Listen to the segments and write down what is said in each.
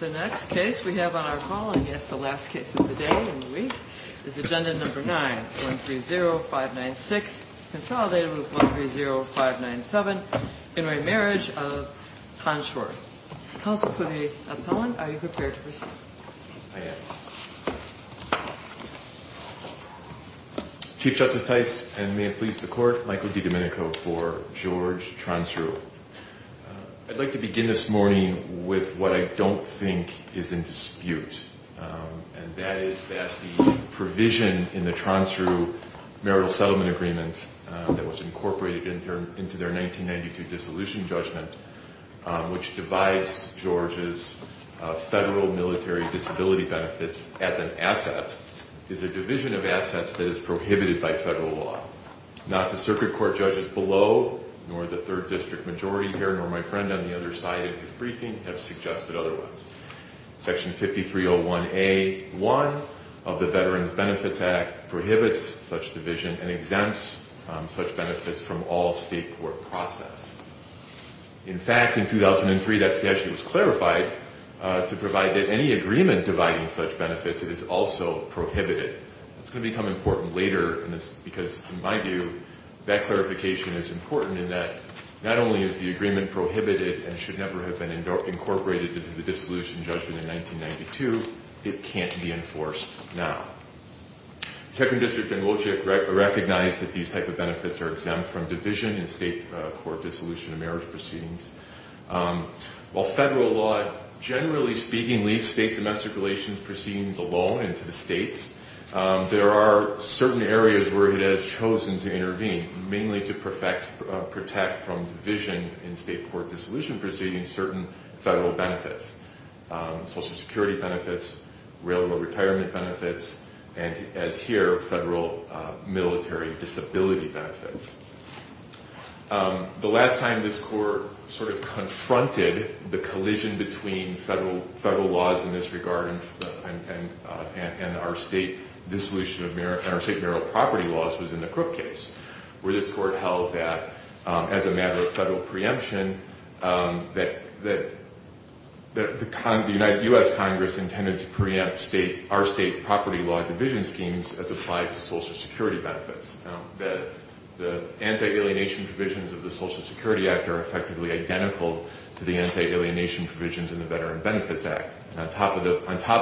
The next case we have on our call, and yes, the last case of the day and week, is agenda number 9, 130596, consolidated with 130597, intermarriage of Tronsrue. Counsel for the appellant, are you prepared to proceed? I am. Chief Justice Tice, and may it please the Court, Michael DiDomenico for George Tronsrue. I'd like to begin this morning with what I don't think is in dispute, and that is that the provision in the Tronsrue marital settlement agreement that was incorporated into their 1992 dissolution judgment, which divides George's federal military disability benefits as an asset, is a division of assets that is prohibited by federal law. Not the circuit court judges below, nor the third district majority here, nor my friend on the other side of the briefing have suggested otherwise. Section 5301A.1 of the Veterans Benefits Act prohibits such division and exempts such benefits from all state court process. In fact, in 2003, that statute was clarified to provide that any agreement dividing such benefits is also prohibited. That's going to become important later because, in my view, that clarification is important in that not only is the agreement prohibited and should never have been incorporated into the dissolution judgment in 1992, it can't be enforced now. The second district in Woolchick recognized that these type of benefits are exempt from division in state court dissolution of marriage proceedings. While federal law, generally speaking, leaves state domestic relations proceedings alone and to the states, there are certain areas where it has chosen to intervene, mainly to protect from division in state court dissolution proceedings, certain federal benefits. Social security benefits, railroad retirement benefits, and, as here, federal military disability benefits. The last time this court sort of confronted the collision between federal laws in this regard and our state marital property laws was in the Crook case, where this court held that, as a matter of federal preemption, that the U.S. Congress intended to preempt our state property law division schemes as applied to social security benefits. The anti-alienation provisions of the Social Security Act are effectively identical to the anti-alienation provisions in the Veteran Benefits Act. On top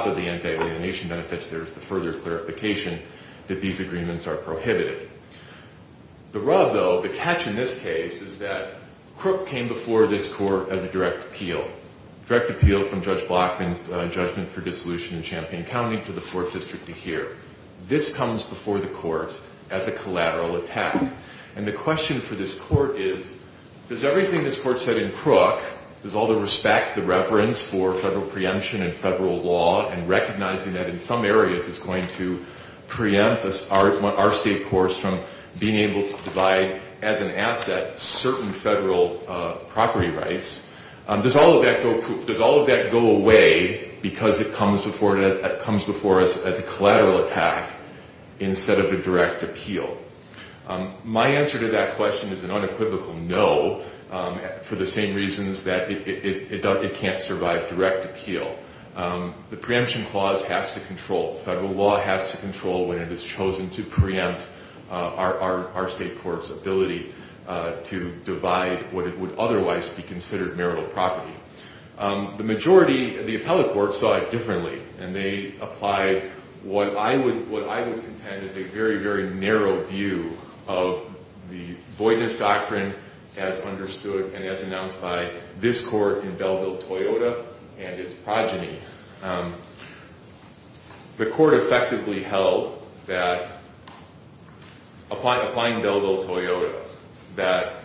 of the anti-alienation benefits, there is the further clarification that these agreements are prohibited. The rub, though, the catch in this case is that Crook came before this court as a direct appeal, direct appeal from Judge Blockman's judgment for dissolution in Champaign County to the Fourth District of here. This comes before the court as a collateral attack, and the question for this court is, does everything this court said in Crook, does all the respect, the reverence for federal preemption and federal law, and recognizing that in some areas it's going to preempt our state courts from being able to divide, as an asset, certain federal property rights, does all of that go away because it comes before us as a collateral attack instead of a direct appeal? My answer to that question is an unequivocal no for the same reasons that it can't survive direct appeal. The preemption clause has to control. Federal law has to control when it has chosen to preempt our state court's ability to divide what it would otherwise be considered marital property. The majority of the appellate courts saw it differently, and they applied what I would contend is a very, very narrow view of the voidness doctrine as understood and as announced by this court in Belleville-Toyota and its progeny. The court effectively held that, applying Belleville-Toyota, that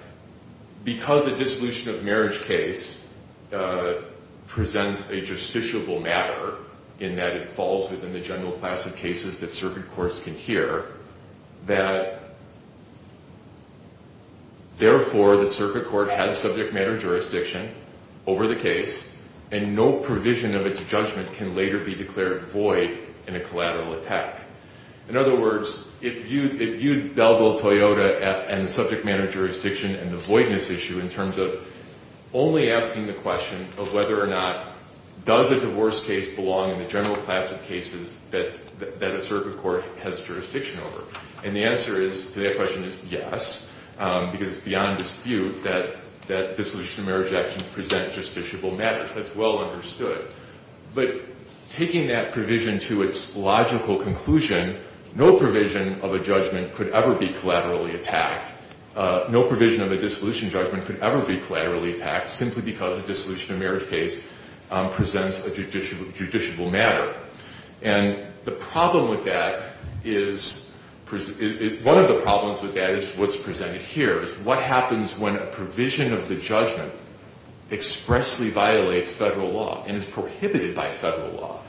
because a dissolution of marriage case presents a justiciable matter in that it falls within the general class of cases that circuit courts can hear, that, therefore, the circuit court has subject matter jurisdiction over the case, and no provision of its judgment can later be declared void in a collateral attack. In other words, it viewed Belleville-Toyota and subject matter jurisdiction and the voidness issue in terms of only asking the question of whether or not does a divorce case belong in the general class of cases that a circuit court has jurisdiction over. And the answer to that question is yes, because it's beyond dispute that dissolution of marriage actions present justiciable matters. That's well understood. But taking that provision to its logical conclusion, no provision of a judgment could ever be collaterally attacked. No provision of a dissolution judgment could ever be collaterally attacked simply because a dissolution of marriage case presents a judiciable matter. And the problem with that is—one of the problems with that is what's presented here, is what happens when a provision of the judgment expressly violates federal law and is prohibited by federal law?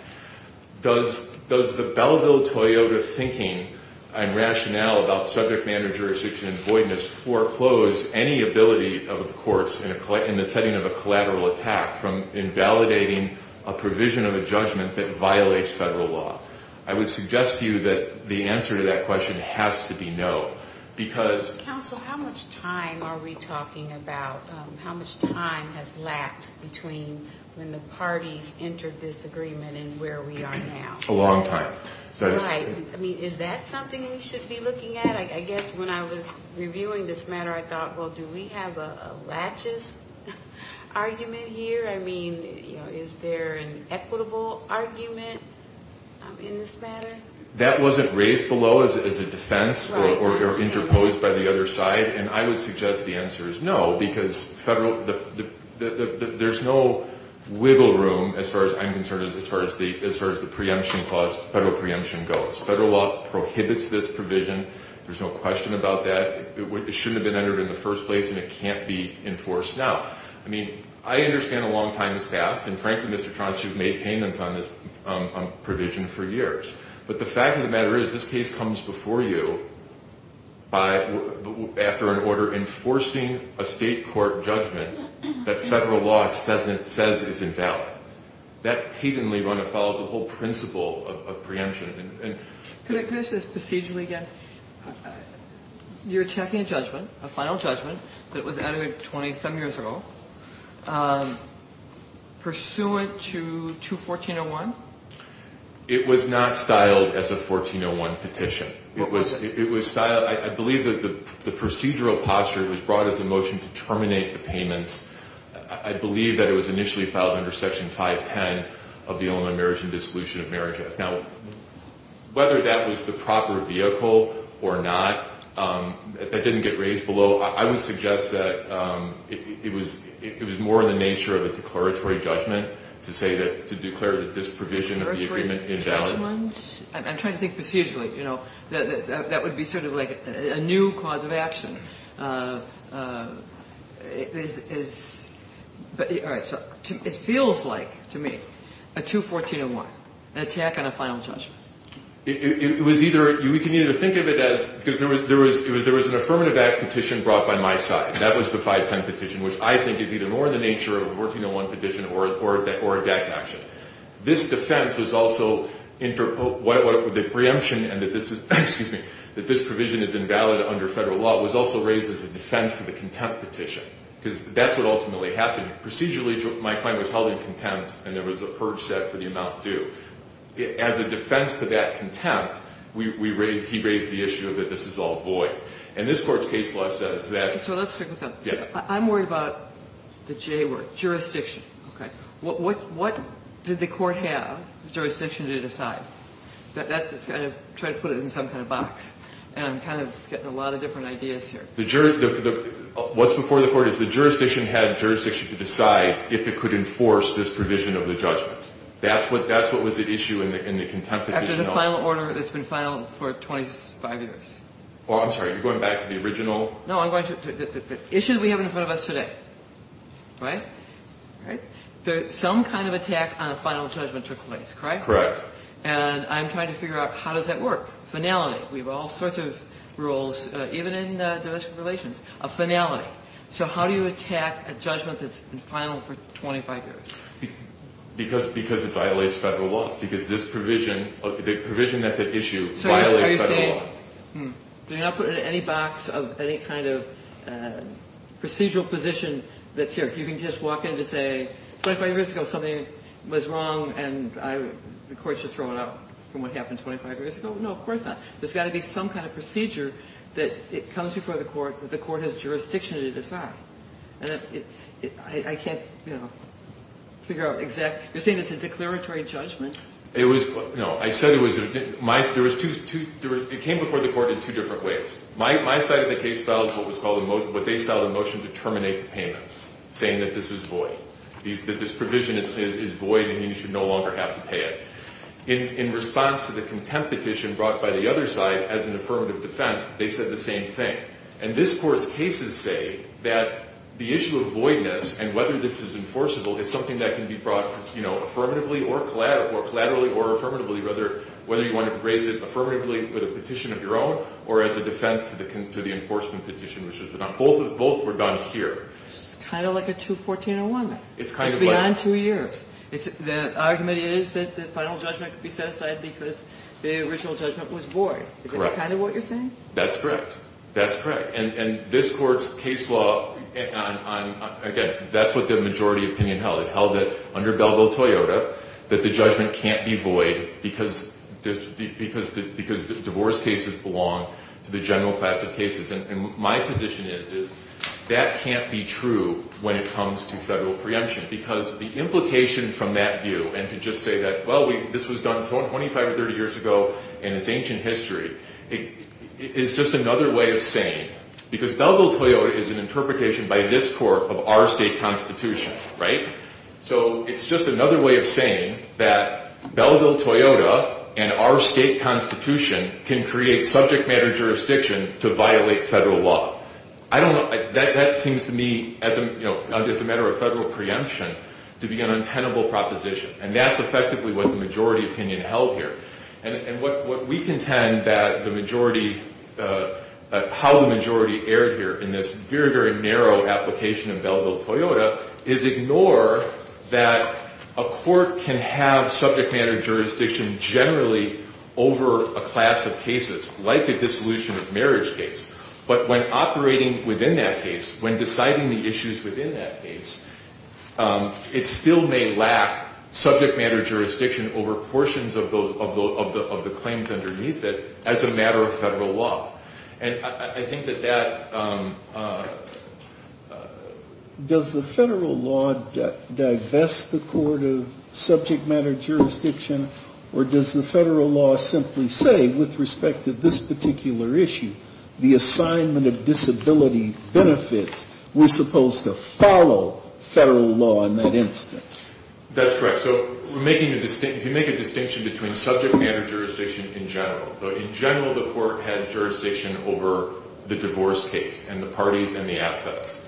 Does the Belleville-Toyota thinking and rationale about subject matter jurisdiction and voidness foreclose any ability of the courts in the setting of a collateral attack from invalidating a provision of a judgment that violates federal law? I would suggest to you that the answer to that question has to be no, because— Counsel, how much time are we talking about—how much time has lapsed between when the parties entered disagreement and where we are now? A long time. Right. I mean, is that something we should be looking at? I guess when I was reviewing this matter, I thought, well, do we have a laches argument here? I mean, is there an equitable argument in this matter? That wasn't raised below as a defense or interposed by the other side. And I would suggest the answer is no, because there's no wiggle room, as far as I'm concerned, as far as the federal preemption goes. Federal law prohibits this provision. There's no question about that. It shouldn't have been entered in the first place, and it can't be enforced now. I mean, I understand a long time has passed, and frankly, Mr. Tronsky, you've made payments on this provision for years. But the fact of the matter is this case comes before you after an order enforcing a state court judgment that federal law says is invalid. That patently runs afoul of the whole principle of preemption. Could I ask this procedurally again? You're checking a judgment, a final judgment, that was entered 27 years ago, pursuant to 21401? It was not styled as a 1401 petition. It was styled – I believe that the procedural posture was brought as a motion to terminate the payments. I believe that it was initially filed under Section 510 of the Illinois Marriage and Dissolution of Marriage Act. Now, whether that was the proper vehicle or not, that didn't get raised below. I would suggest that it was more in the nature of a declaratory judgment to say that – to declare that this provision of the agreement invalid. Declaratory judgment? I'm trying to think procedurally. You know, that would be sort of like a new cause of action. All right. So it feels like, to me, a 21401, an attack on a final judgment. It was either – we can either think of it as – because there was an affirmative act petition brought by my side. That was the 510 petition, which I think is either more in the nature of a 1401 petition or a DAC action. This defense was also – the preemption and that this is – excuse me – that this provision is invalid under federal law was also raised as a defense to the contempt petition. Because that's what ultimately happened. Procedurally, my client was held in contempt, and there was a purge set for the amount due. As a defense to that contempt, we – he raised the issue that this is all void. And this Court's case law says that – So let's stick with that. I'm worried about the J word, jurisdiction. Okay. What did the Court have jurisdiction to decide? That's – I tried to put it in some kind of box, and I'm kind of getting a lot of different ideas here. The – what's before the Court is the jurisdiction had jurisdiction to decide if it could enforce this provision of the judgment. That's what was at issue in the contempt petition. After the final order that's been filed for 25 years. Oh, I'm sorry. You're going back to the original? No, I'm going to – the issue that we have in front of us today. Right? Right? Some kind of attack on a final judgment took place, correct? And I'm trying to figure out how does that work. Finality. We have all sorts of rules, even in domestic relations, of finality. So how do you attack a judgment that's been final for 25 years? Because it violates federal law. Because this provision – the provision that's at issue violates federal law. So you're not putting it in any box of any kind of procedural position that's here. You can just walk in to say 25 years ago something was wrong and the Court should throw it out from what happened 25 years ago. No, of course not. There's got to be some kind of procedure that comes before the Court that the Court has jurisdiction to decide. And I can't, you know, figure out exact – you're saying it's a declaratory judgment. It was – no, I said it was – there was two – it came before the Court in two different ways. My side of the case filed what was called a – what they filed in motion to terminate the payments, saying that this is void. That this provision is void and you should no longer have to pay it. In response to the contempt petition brought by the other side as an affirmative defense, they said the same thing. And this Court's cases say that the issue of voidness and whether this is enforceable is something that can be brought, you know, raised affirmatively with a petition of your own or as a defense to the enforcement petition. Both were done here. It's kind of like a 214-01. It's kind of like – It's beyond two years. The argument is that the final judgment could be set aside because the original judgment was void. Correct. Is that kind of what you're saying? That's correct. That's correct. And this Court's case law, again, that's what the majority opinion held. It held that under Belleville-Toyota that the judgment can't be void because divorce cases belong to the general class of cases. And my position is that can't be true when it comes to federal preemption because the implication from that view and to just say that, well, this was done 25 or 30 years ago and it's ancient history, is just another way of saying – because Belleville-Toyota is an interpretation by this Court of our state constitution, right? So it's just another way of saying that Belleville-Toyota and our state constitution can create subject matter jurisdiction to violate federal law. I don't – that seems to me as a matter of federal preemption to be an untenable proposition. And that's effectively what the majority opinion held here. And what we contend that the majority – how the majority erred here in this very, very narrow application in Belleville-Toyota is ignore that a court can have subject matter jurisdiction generally over a class of cases, like a dissolution of marriage case. But when operating within that case, when deciding the issues within that case, it still may lack subject matter jurisdiction over portions of the claims underneath it as a matter of federal law. And I think that that – Does the federal law divest the court of subject matter jurisdiction or does the federal law simply say, with respect to this particular issue, the assignment of disability benefits, we're supposed to follow federal law in that instance? That's correct. So if you make a distinction between subject matter jurisdiction in general, the court had jurisdiction over the divorce case and the parties and the assets.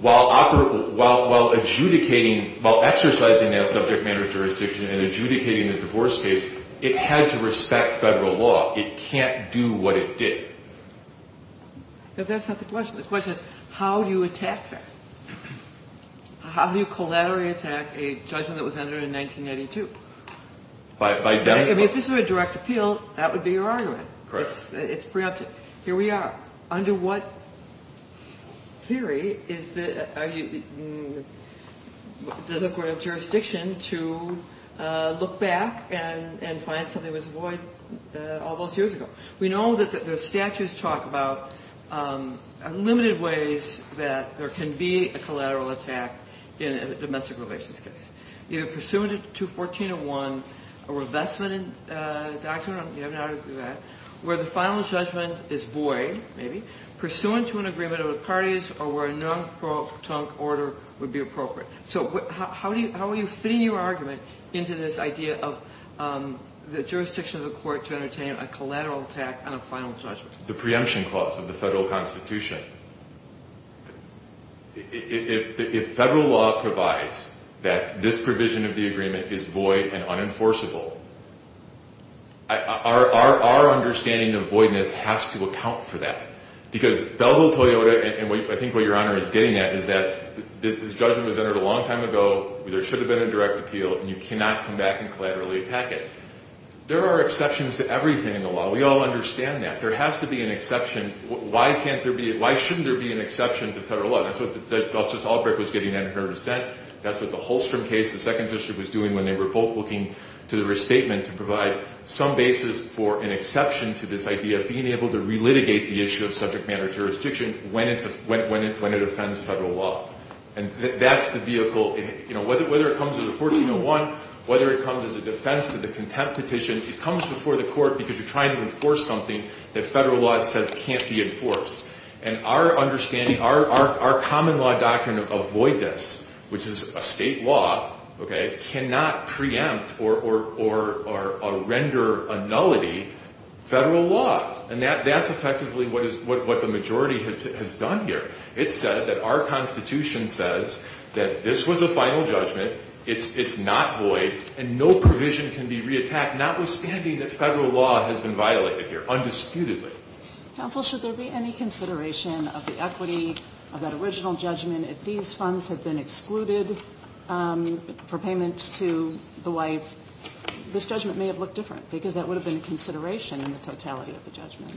While adjudicating – while exercising that subject matter jurisdiction and adjudicating the divorce case, it had to respect federal law. It can't do what it did. But that's not the question. The question is, how do you attack that? How do you collaterally attack a judgment that was entered in 1982? I mean, if this were a direct appeal, that would be your argument. It's preemptive. Here we are. Under what theory is the court of jurisdiction to look back and find something that was void all those years ago? We know that the statutes talk about limited ways that there can be a collateral attack in a domestic relations case. Either pursuant to 214.01, a revestment doctrine – you have an article on that – where the final judgment is void, maybe, pursuant to an agreement of the parties, or where a non-protonc order would be appropriate. So how are you fitting your argument into this idea of the jurisdiction of the court to entertain a collateral attack on a final judgment? The preemption clause of the federal constitution. If federal law provides that this provision of the agreement is void and unenforceable, our understanding of voidness has to account for that. Because Belleville-Toyota, and I think what Your Honor is getting at, is that this judgment was entered a long time ago, there should have been a direct appeal, and you cannot come back and collaterally attack it. There are exceptions to everything in the law. We all understand that. There has to be an exception. Why shouldn't there be an exception to federal law? That's what Justice Albrecht was getting at in her dissent. That's what the Holstrom case, the Second District, was doing when they were both looking to the restatement to provide some basis for an exception to this idea of being able to relitigate the issue of subject matter jurisdiction when it offends federal law. And that's the vehicle. Whether it comes to the 1401, whether it comes as a defense to the contempt petition, it comes before the court because you're trying to enforce something that federal law says can't be enforced. And our understanding, our common law doctrine of voidness, which is a state law, cannot preempt or render a nullity federal law. And that's effectively what the majority has done here. It said that our Constitution says that this was a final judgment, it's not void, and no provision can be reattacked, notwithstanding that federal law has been violated here undisputedly. Counsel, should there be any consideration of the equity of that original judgment? If these funds had been excluded for payment to the wife, this judgment may have looked different because that would have been a consideration in the totality of the judgment.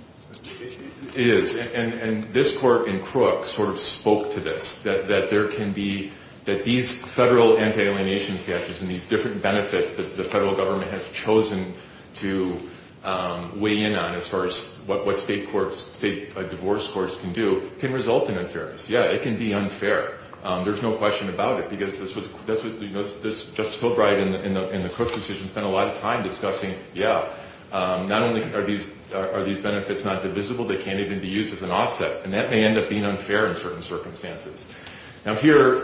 It is. And this Court in Crook sort of spoke to this, that there can be these federal anti-alienation statutes and these different benefits that the federal government has chosen to weigh in on as far as what state divorce courts can do can result in unfairness. Yeah, it can be unfair. There's no question about it because Justice Fulbright in the Crook decision spent a lot of time discussing, yeah, not only are these benefits not divisible, they can't even be used as an offset. And that may end up being unfair in certain circumstances. Now here,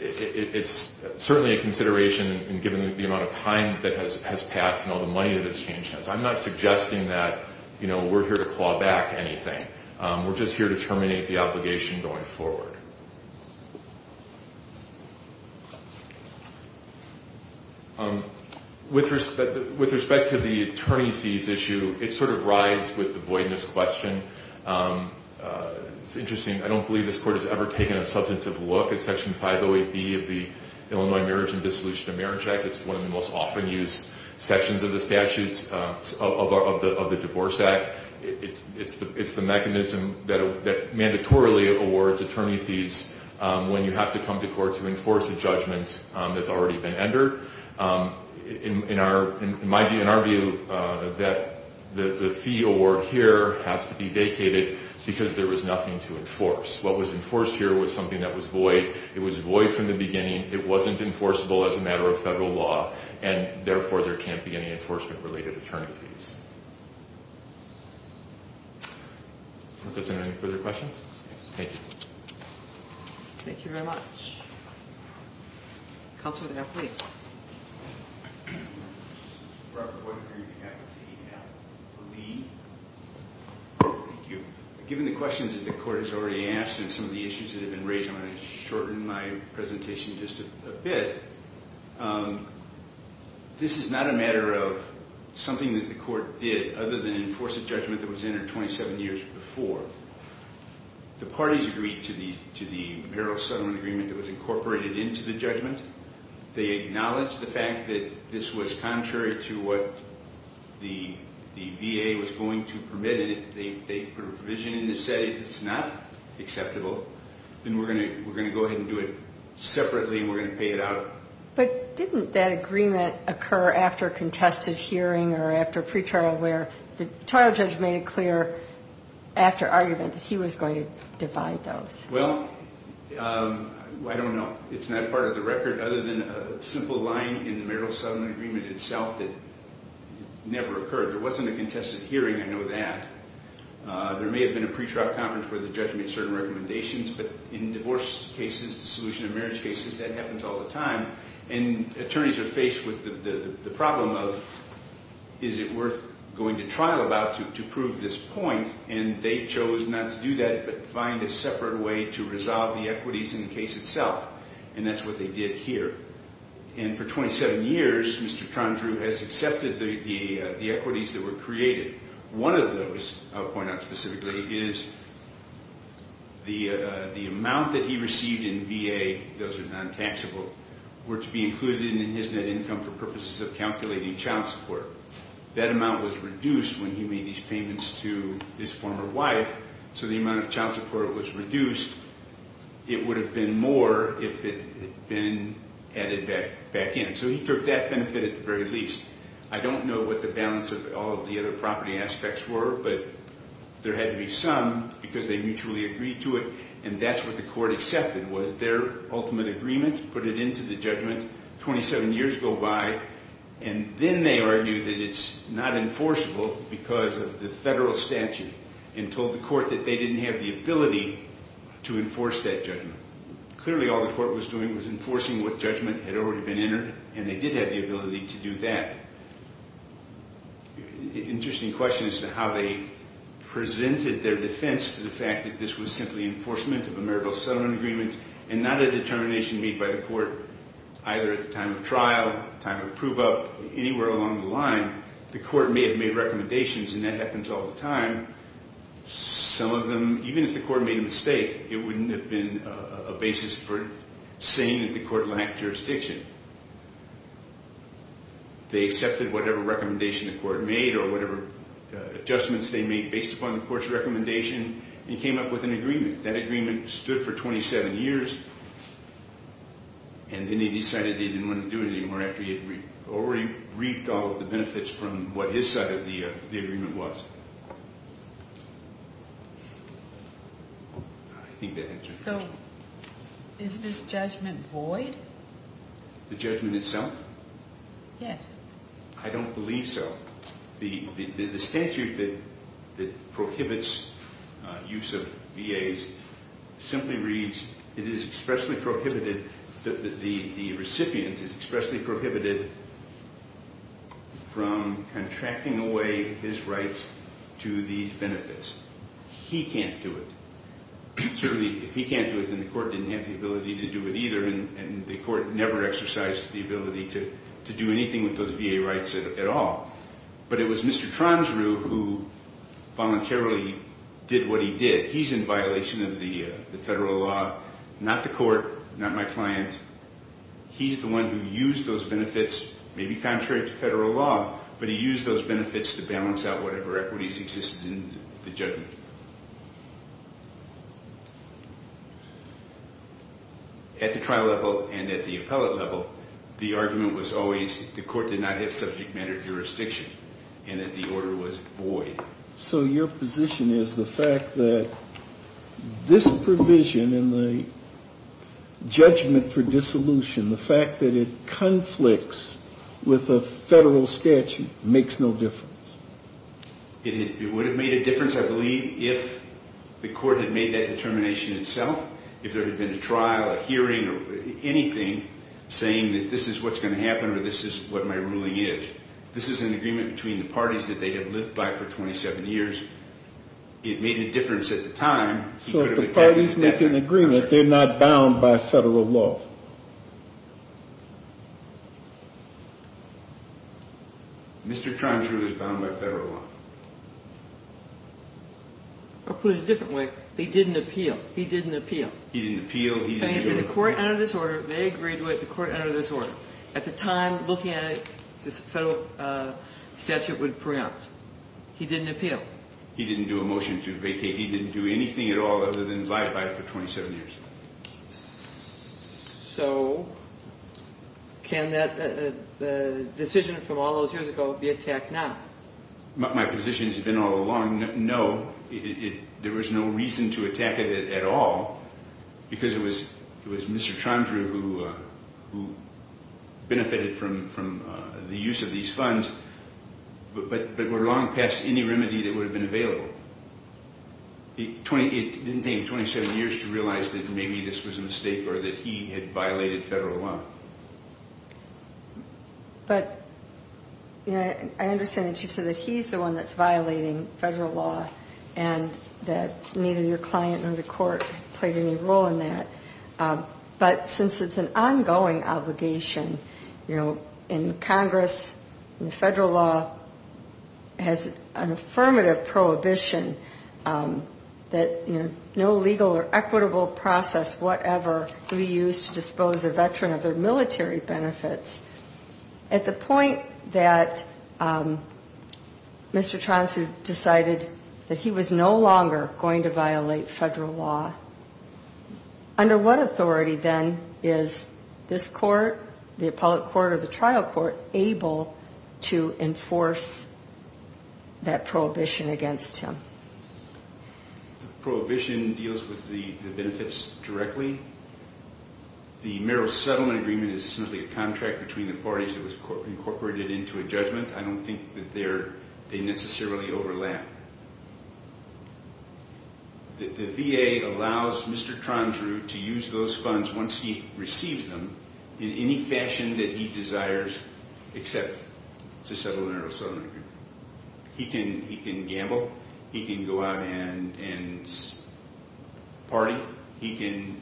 it's certainly a consideration given the amount of time that has passed and all the money that has changed hands. I'm not suggesting that we're here to claw back anything. We're just here to terminate the obligation going forward. With respect to the attorney fees issue, it sort of rides with the voidness question. It's interesting. I don't believe this Court has ever taken a substantive look at Section 508B of the Illinois Marriage and Dissolution of Marriage Act. It's one of the most often used sections of the statutes of the Divorce Act. It's the mechanism that mandatorily awards attorney fees when you have to come to court to enforce a judgment that's already been entered. It might be in our view that the fee award here has to be vacated because there was nothing to enforce. What was enforced here was something that was void. It was void from the beginning. It wasn't enforceable as a matter of federal law, and therefore there can't be any enforcement-related attorney fees. Does anyone have any further questions? Thank you. Thank you very much. Counselor, now please. Given the questions that the Court has already asked and some of the issues that have been raised, I'm going to shorten my presentation just a bit. This is not a matter of something that the Court did other than enforce a judgment that was entered 27 years before. The parties agreed to the Merrill-Sutherland Agreement that was incorporated into the judgment. They acknowledged the fact that this was contrary to what the VA was going to permit, and they put a provision in that said if it's not acceptable, then we're going to go ahead and do it separately and we're going to pay it out. But didn't that agreement occur after a contested hearing or after a pretrial where the trial judge made a clear actor argument that he was going to divide those? Well, I don't know. It's not part of the record other than a simple line in the Merrill-Sutherland Agreement itself that never occurred. There wasn't a contested hearing, I know that. There may have been a pretrial conference where the judge made certain recommendations, but in divorce cases, dissolution of marriage cases, that happens all the time. And attorneys are faced with the problem of is it worth going to trial about to prove this point, and they chose not to do that but find a separate way to resolve the equities in the case itself, and that's what they did here. And for 27 years, Mr. Tondreau has accepted the equities that were created. One of those I'll point out specifically is the amount that he received in VA, those are non-taxable, were to be included in his net income for purposes of calculating child support. That amount was reduced when he made these payments to his former wife, so the amount of child support was reduced. It would have been more if it had been added back in. So he took that benefit at the very least. I don't know what the balance of all of the other property aspects were, but there had to be some because they mutually agreed to it, and that's what the court accepted was their ultimate agreement, put it into the judgment, 27 years go by, and then they argue that it's not enforceable because of the federal statute and told the court that they didn't have the ability to enforce that judgment. Clearly all the court was doing was enforcing what judgment had already been entered, and they did have the ability to do that. Interesting question as to how they presented their defense to the fact that this was simply enforcement of a marital settlement agreement and not a determination made by the court either at the time of trial, time of prove-up, anywhere along the line. The court may have made recommendations, and that happens all the time. Some of them, even if the court made a mistake, it wouldn't have been a basis for saying that the court lacked jurisdiction. They accepted whatever recommendation the court made or whatever adjustments they made based upon the court's recommendation and came up with an agreement. That agreement stood for 27 years, and then they decided they didn't want to do it anymore after he had already reaped all of the benefits from what his side of the agreement was. I think that answers your question. So is this judgment void? The judgment itself? Yes. I don't believe so. The statute that prohibits use of VAs simply reads, it is expressly prohibited that the recipient is expressly prohibited from contracting away his rights to these benefits. He can't do it. Certainly, if he can't do it, then the court didn't have the ability to do it either, and the court never exercised the ability to do anything with those VA rights at all. But it was Mr. Tronsrud who voluntarily did what he did. He's in violation of the federal law, not the court, not my client. He's the one who used those benefits, maybe contrary to federal law, but he used those benefits to balance out whatever equities existed in the judgment. At the trial level and at the appellate level, the argument was always the court did not have subject matter jurisdiction and that the order was void. So your position is the fact that this provision in the judgment for dissolution, the fact that it conflicts with a federal statute, makes no difference. It would have made a difference, I believe, if the court had made that determination itself, if there had been a trial, a hearing, or anything saying that this is what's going to happen or this is what my ruling is. This is an agreement between the parties that they have lived by for 27 years. It made a difference at the time. So if the parties make an agreement, they're not bound by federal law. Mr. Trondreau is bound by federal law. I'll put it a different way. He didn't appeal. He didn't appeal. He didn't appeal. The court entered this order. They agreed to it. The court entered this order. At the time, looking at it, this federal statute would preempt. He didn't appeal. He didn't do a motion to vacate. He didn't do anything at all other than abide by it for 27 years. So can the decision from all those years ago be attacked now? My position has been all along, no. There was no reason to attack it at all because it was Mr. Trondreau who benefited from the use of these funds but were long past any remedy that would have been available. It didn't take him 27 years to realize that maybe this was a mistake or that he had violated federal law. But I understand that you said that he's the one that's violating federal law and that neither your client nor the court played any role in that. But since it's an ongoing obligation, you know, in Congress, and the federal law has an affirmative prohibition that, you know, no legal or equitable process whatever would be used to dispose a veteran of their military benefits, at the point that Mr. Trondreau decided that he was no longer going to violate federal law, under what authority then is this court, the appellate court or the trial court, able to enforce that prohibition against him? The prohibition deals with the benefits directly. The marital settlement agreement is simply a contract between the parties that was incorporated into a judgment. I don't think that they necessarily overlap. The VA allows Mr. Trondreau to use those funds once he receives them in any fashion that he desires except to settle a marital settlement agreement. He can gamble. He can go out and party. He can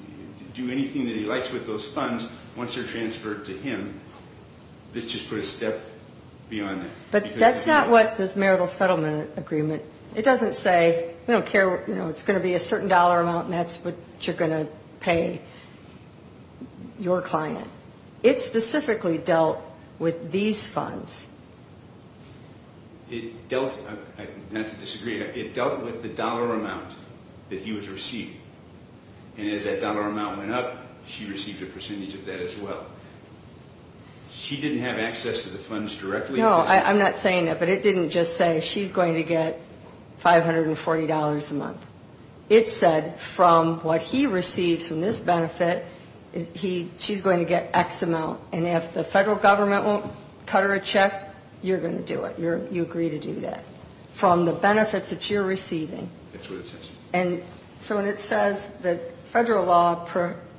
do anything that he likes with those funds once they're transferred to him. Let's just put a step beyond that. But that's not what this marital settlement agreement, it doesn't say, we don't care, you know, it's going to be a certain dollar amount and that's what you're going to pay your client. It specifically dealt with these funds. It dealt, not to disagree, it dealt with the dollar amount that he was receiving. And as that dollar amount went up, she received a percentage of that as well. She didn't have access to the funds directly? No, I'm not saying that, but it didn't just say she's going to get $540 a month. It said from what he receives from this benefit, she's going to get X amount and if the Federal Government won't cut her a check, you're going to do it. You agree to do that from the benefits that you're receiving. And so when it says that Federal law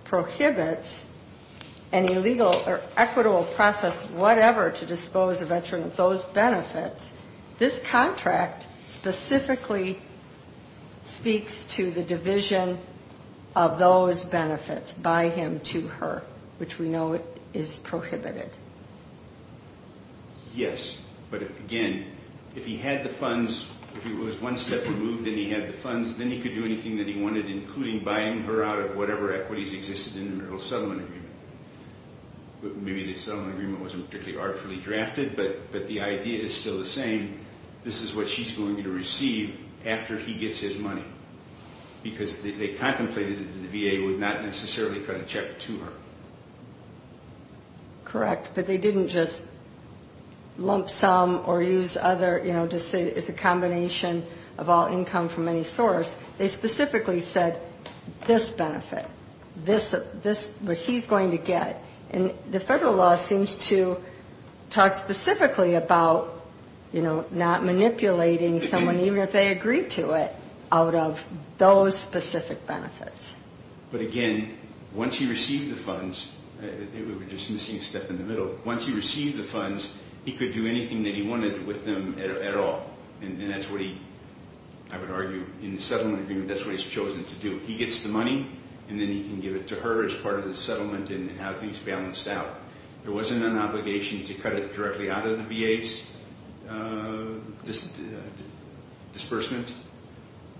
prohibits an illegal or equitable process whatever to dispose a veteran of those benefits, this contract specifically speaks to the division of those benefits by him to her, which we know is prohibited. Yes, but again, if he had the funds, if it was one step removed and he had the funds, then he could do anything that he wanted, including buying her out of whatever equities existed in the marital settlement agreement. Maybe the settlement agreement wasn't particularly artfully drafted, but the idea is still the same. This is what she's going to receive after he gets his money because they contemplated that the VA would not necessarily cut a check to her. Correct, but they didn't just lump sum or use other, you know, just say it's a combination of all income from any source. They specifically said this benefit, what he's going to get. And the Federal law seems to talk specifically about, you know, not manipulating someone even if they agree to it out of those specific benefits. But again, once he received the funds, we're just missing a step in the middle, once he received the funds, he could do anything that he wanted with them at all. And that's what he, I would argue, in the settlement agreement, that's what he's chosen to do. He gets the money, and then he can give it to her as part of the settlement and have things balanced out. There wasn't an obligation to cut it directly out of the VA's disbursement,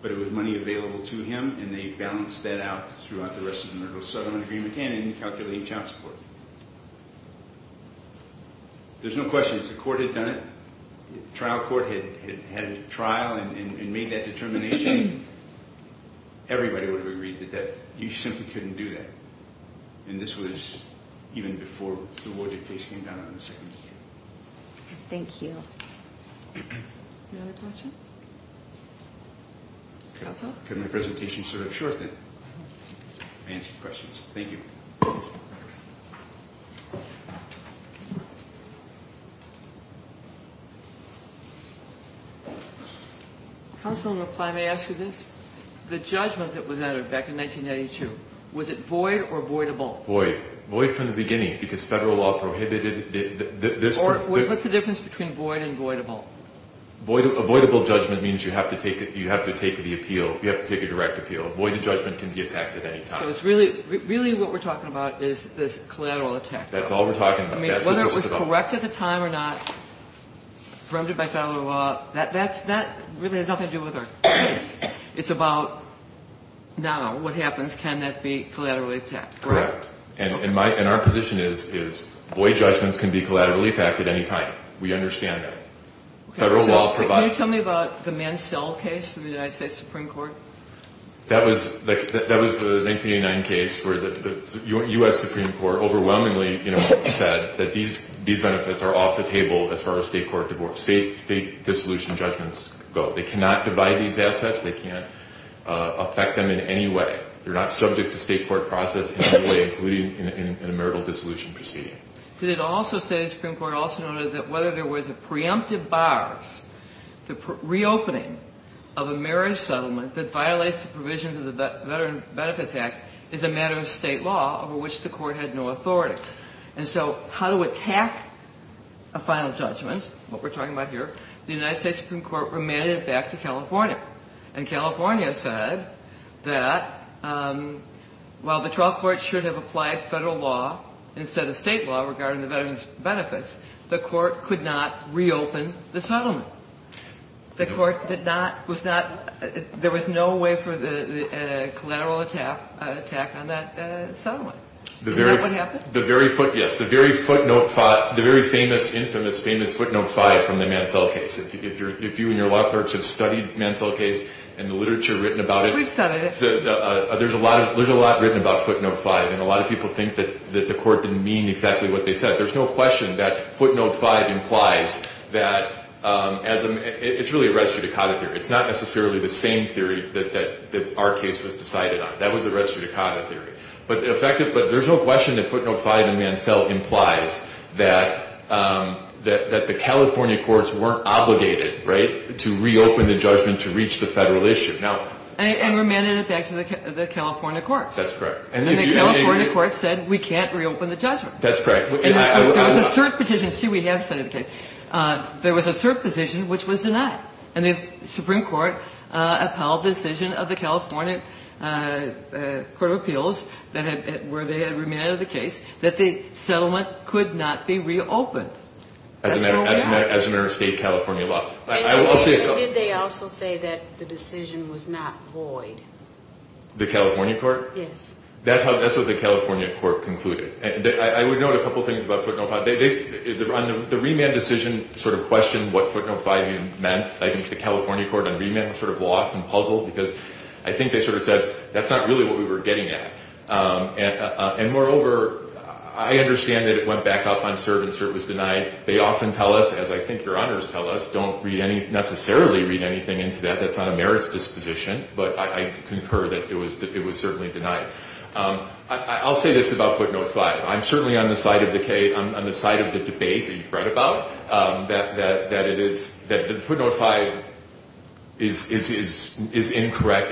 but it was money available to him, and they balanced that out throughout the rest of the marital settlement agreement and in calculating child support. There's no questions. The court had done it. The trial court had a trial and made that determination. Everybody would have agreed to that. You simply couldn't do that. And this was even before the Wardick case came down on the second hearing. Thank you. Any other questions? Okay, my presentation is sort of short then. I'll answer questions. Thank you. Counsel in reply, may I ask you this? The judgment that was entered back in 1992, was it void or voidable? Void. Void from the beginning because federal law prohibited this. Or what's the difference between void and voidable? A voidable judgment means you have to take the appeal, you have to take a direct appeal. A void judgment can be attacked at any time. So really what we're talking about is this collateral attack. That's all we're talking about. Whether it was correct at the time or not, prohibited by federal law, that really has nothing to do with our case. It's about now, what happens? Can that be collaterally attacked? Correct. And our position is void judgments can be collaterally attacked at any time. We understand that. Can you tell me about the Mansell case in the United States Supreme Court? That was the 1989 case where the U.S. Supreme Court overwhelmingly said that these benefits are off the table as far as state court divorce, state dissolution judgments go. They cannot divide these assets. They can't affect them in any way. They're not subject to state court process in any way, including in a marital dissolution proceeding. Did it also say, the Supreme Court also noted, that whether there was a preemptive bars, the reopening of a marriage settlement that violates the provisions of the Veterans Benefits Act is a matter of state law over which the court had no authority. And so how to attack a final judgment, what we're talking about here, the United States Supreme Court remanded it back to California. And California said that while the trial court should have applied federal law instead of state law regarding the Veterans Benefits, the court could not reopen the settlement. The court did not, was not, there was no way for a collateral attack on that settlement. Is that what happened? The very footnote, the very infamous footnote five from the Mansell case. If you and your law clerks have studied Mansell case and the literature written about it. We've studied it. There's a lot written about footnote five. And a lot of people think that the court didn't mean exactly what they said. There's no question that footnote five implies that as a, it's really a restricted conduct theory. It's not necessarily the same theory that our case was decided on. That was a restricted conduct theory. But there's no question that footnote five in Mansell implies that the California courts weren't obligated, right, to reopen the judgment to reach the federal issue. And remanded it back to the California courts. That's correct. And the California courts said we can't reopen the judgment. That's correct. There was a cert petition, see we have studied the case. There was a cert petition which was denied. And the Supreme Court upheld the decision of the California Court of Appeals where they had remanded the case that the settlement could not be reopened. As a matter of state California law. Did they also say that the decision was not void? The California court? Yes. That's what the California court concluded. I would note a couple things about footnote five. The remand decision sort of questioned what footnote five meant. I think the California court on remand sort of lost and puzzled because I think they sort of said that's not really what we were getting at. And moreover, I understand that it went back up on cert and cert was denied. They often tell us, as I think your honors tell us, don't necessarily read anything into that. That's not a merits disposition. But I concur that it was certainly denied. I'll say this about footnote five. I'm certainly on the side of the debate that you've read about. That footnote five is incorrect.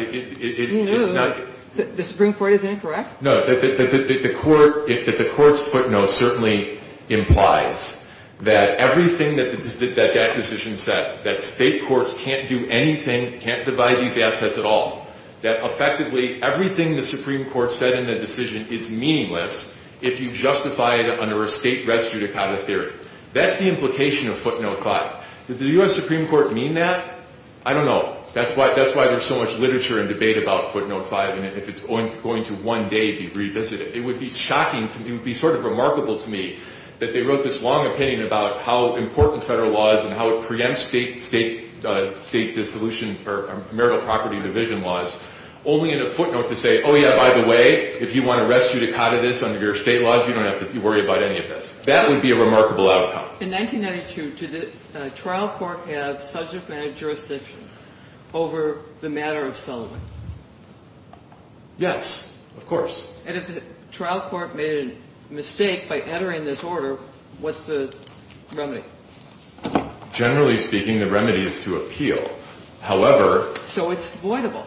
The Supreme Court is incorrect? No. The court's footnote certainly implies that everything that that decision said, that state courts can't do anything, can't divide these assets at all, that effectively everything the Supreme Court said in the decision is meaningless if you justify it under a state res judicata theory. That's the implication of footnote five. Did the U.S. Supreme Court mean that? I don't know. That's why there's so much literature and debate about footnote five and if it's going to one day be revisited. It would be shocking to me, it would be sort of remarkable to me that they wrote this long opinion about how important federal law is and how it preempts state dissolution or marital property division laws only in a footnote to say, oh, yeah, by the way, if you want to res judicata this under your state laws, you don't have to worry about any of this. That would be a remarkable outcome. In 1992, did the trial court have subject matter jurisdiction over the matter of Sullivan? Yes, of course. And if the trial court made a mistake by entering this order, what's the remedy? Generally speaking, the remedy is to appeal. However. So it's voidable.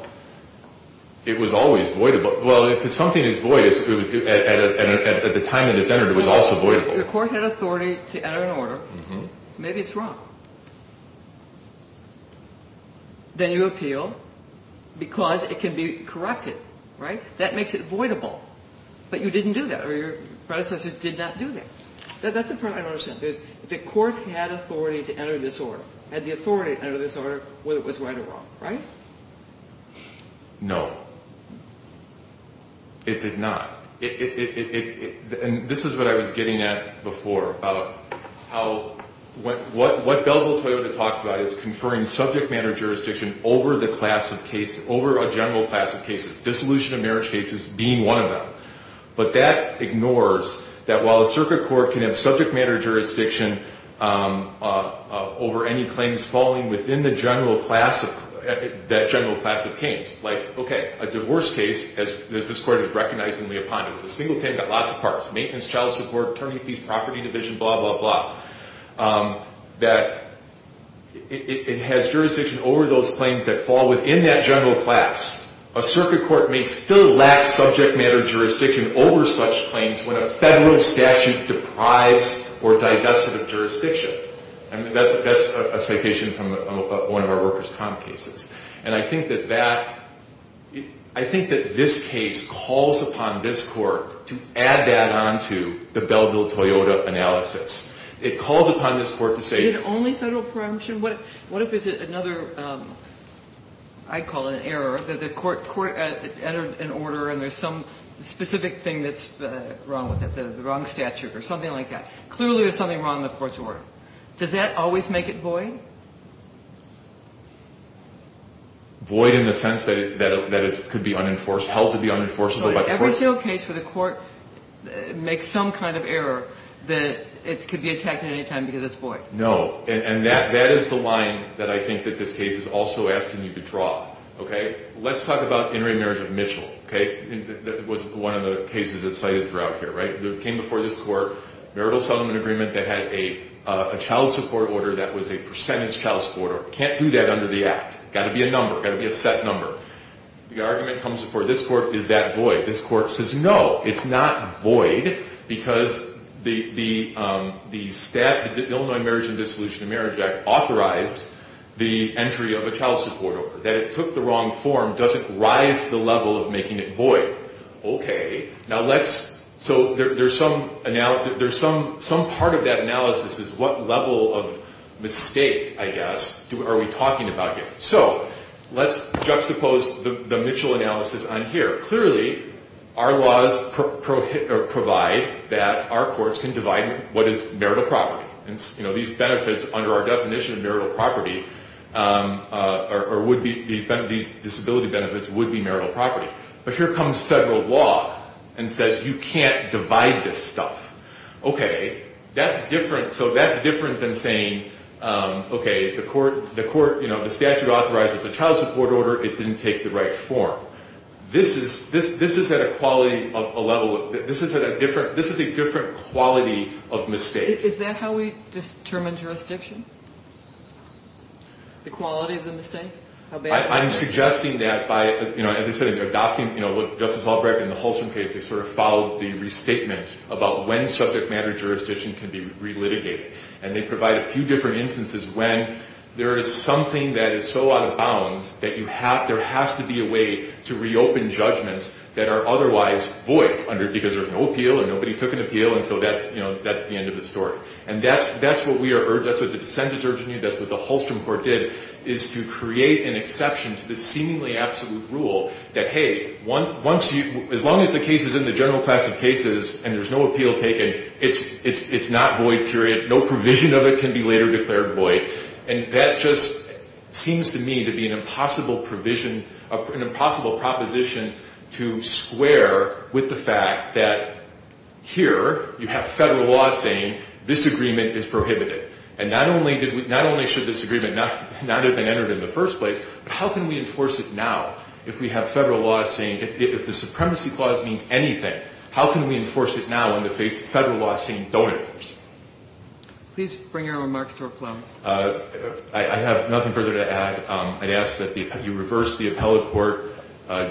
It was always voidable. Well, if something is void at the time it was entered, it was also voidable. Well, if the court had authority to enter an order, maybe it's wrong. Then you appeal because it can be corrected, right? That makes it voidable. But you didn't do that, or your predecessors did not do that. That's the part I don't understand. If the court had authority to enter this order, had the authority to enter this order, was it right or wrong, right? No. It did not. And this is what I was getting at before about how what Belleville-Toyota talks about is conferring subject matter jurisdiction over a general class of cases, dissolution of marriage cases being one of them. But that ignores that while a circuit court can have subject matter jurisdiction over any claims falling within that general class of claims, like, okay, a divorce case, as this court has recognized in Leopondo, a single claim got lots of parts, maintenance, child support, attorney apiece, property division, blah, blah, blah, that it has jurisdiction over those claims that fall within that general class. A circuit court may still lack subject matter jurisdiction over such claims when a federal statute deprives or divests it of jurisdiction. I mean, that's a citation from one of our workers' comp cases. And I think that that – I think that this case calls upon this court to add that on to the Belleville-Toyota analysis. It calls upon this court to say – Is it only federal prerogative? What if there's another – I call it an error, that the court entered an order and there's some specific thing that's wrong with it, the wrong statute or something like that. Clearly there's something wrong in the court's order. Does that always make it void? Void in the sense that it could be unenforced, held to be unenforceable by the court. So every single case for the court makes some kind of error that it could be attacked at any time because it's void. No. And that is the line that I think that this case is also asking you to draw. Okay? Let's talk about intermarriage of Mitchell. Okay? That was one of the cases that's cited throughout here, right? It came before this court, marital settlement agreement that had a child support order that was a percentage child support order. Can't do that under the Act. Got to be a number. Got to be a set number. The argument comes before this court. Is that void? This court says no. It's not void because the Illinois Marriage and Dissolution of Marriage Act authorized the entry of a child support order. That it took the wrong form doesn't rise to the level of making it void. So there's some part of that analysis is what level of mistake, I guess, are we talking about here? So let's juxtapose the Mitchell analysis on here. Clearly, our laws provide that our courts can divide what is marital property. These benefits under our definition of marital property or these disability benefits would be marital property. But here comes federal law and says you can't divide this stuff. Okay. That's different. So that's different than saying, okay, the statute authorizes a child support order. It didn't take the right form. This is at a quality of a level. This is a different quality of mistake. Is that how we determine jurisdiction? The quality of the mistake? I'm suggesting that by, you know, as I said, they're adopting what Justice Albrecht in the Halston case, they sort of followed the restatement about when subject matter jurisdiction can be relitigated. And they provide a few different instances when there is something that is so out of bounds that there has to be a way to reopen judgments that are otherwise void because there's no appeal or nobody took an appeal. And so that's the end of the story. And that's what we are urging. That's what the dissent is urging you. That's what the Halston court did is to create an exception to the seemingly absolute rule that, hey, as long as the case is in the general class of cases and there's no appeal taken, it's not void, period. No provision of it can be later declared void. And that just seems to me to be an impossible provision, an impossible proposition to square with the fact that here you have federal law saying this agreement is prohibited. And not only should this agreement not have been entered in the first place, but how can we enforce it now if we have federal law saying if the supremacy clause means anything, how can we enforce it now in the face of federal law saying don't enforce it? Please bring your remarks to a close. I have nothing further to add. I'd ask that you reverse the appellate court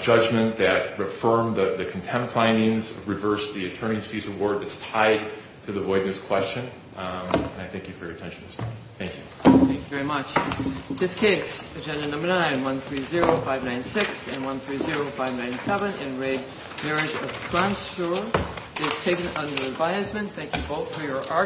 judgment that reaffirmed the contempt findings, reverse the attorney's fees award that's tied to the void in this question, and I thank you for your attention this morning. Thank you. Thank you very much. This case, agenda number 9, 130596 and 130597, Enraged Marriage of Grantors, is taken under advisement. Thank you both for your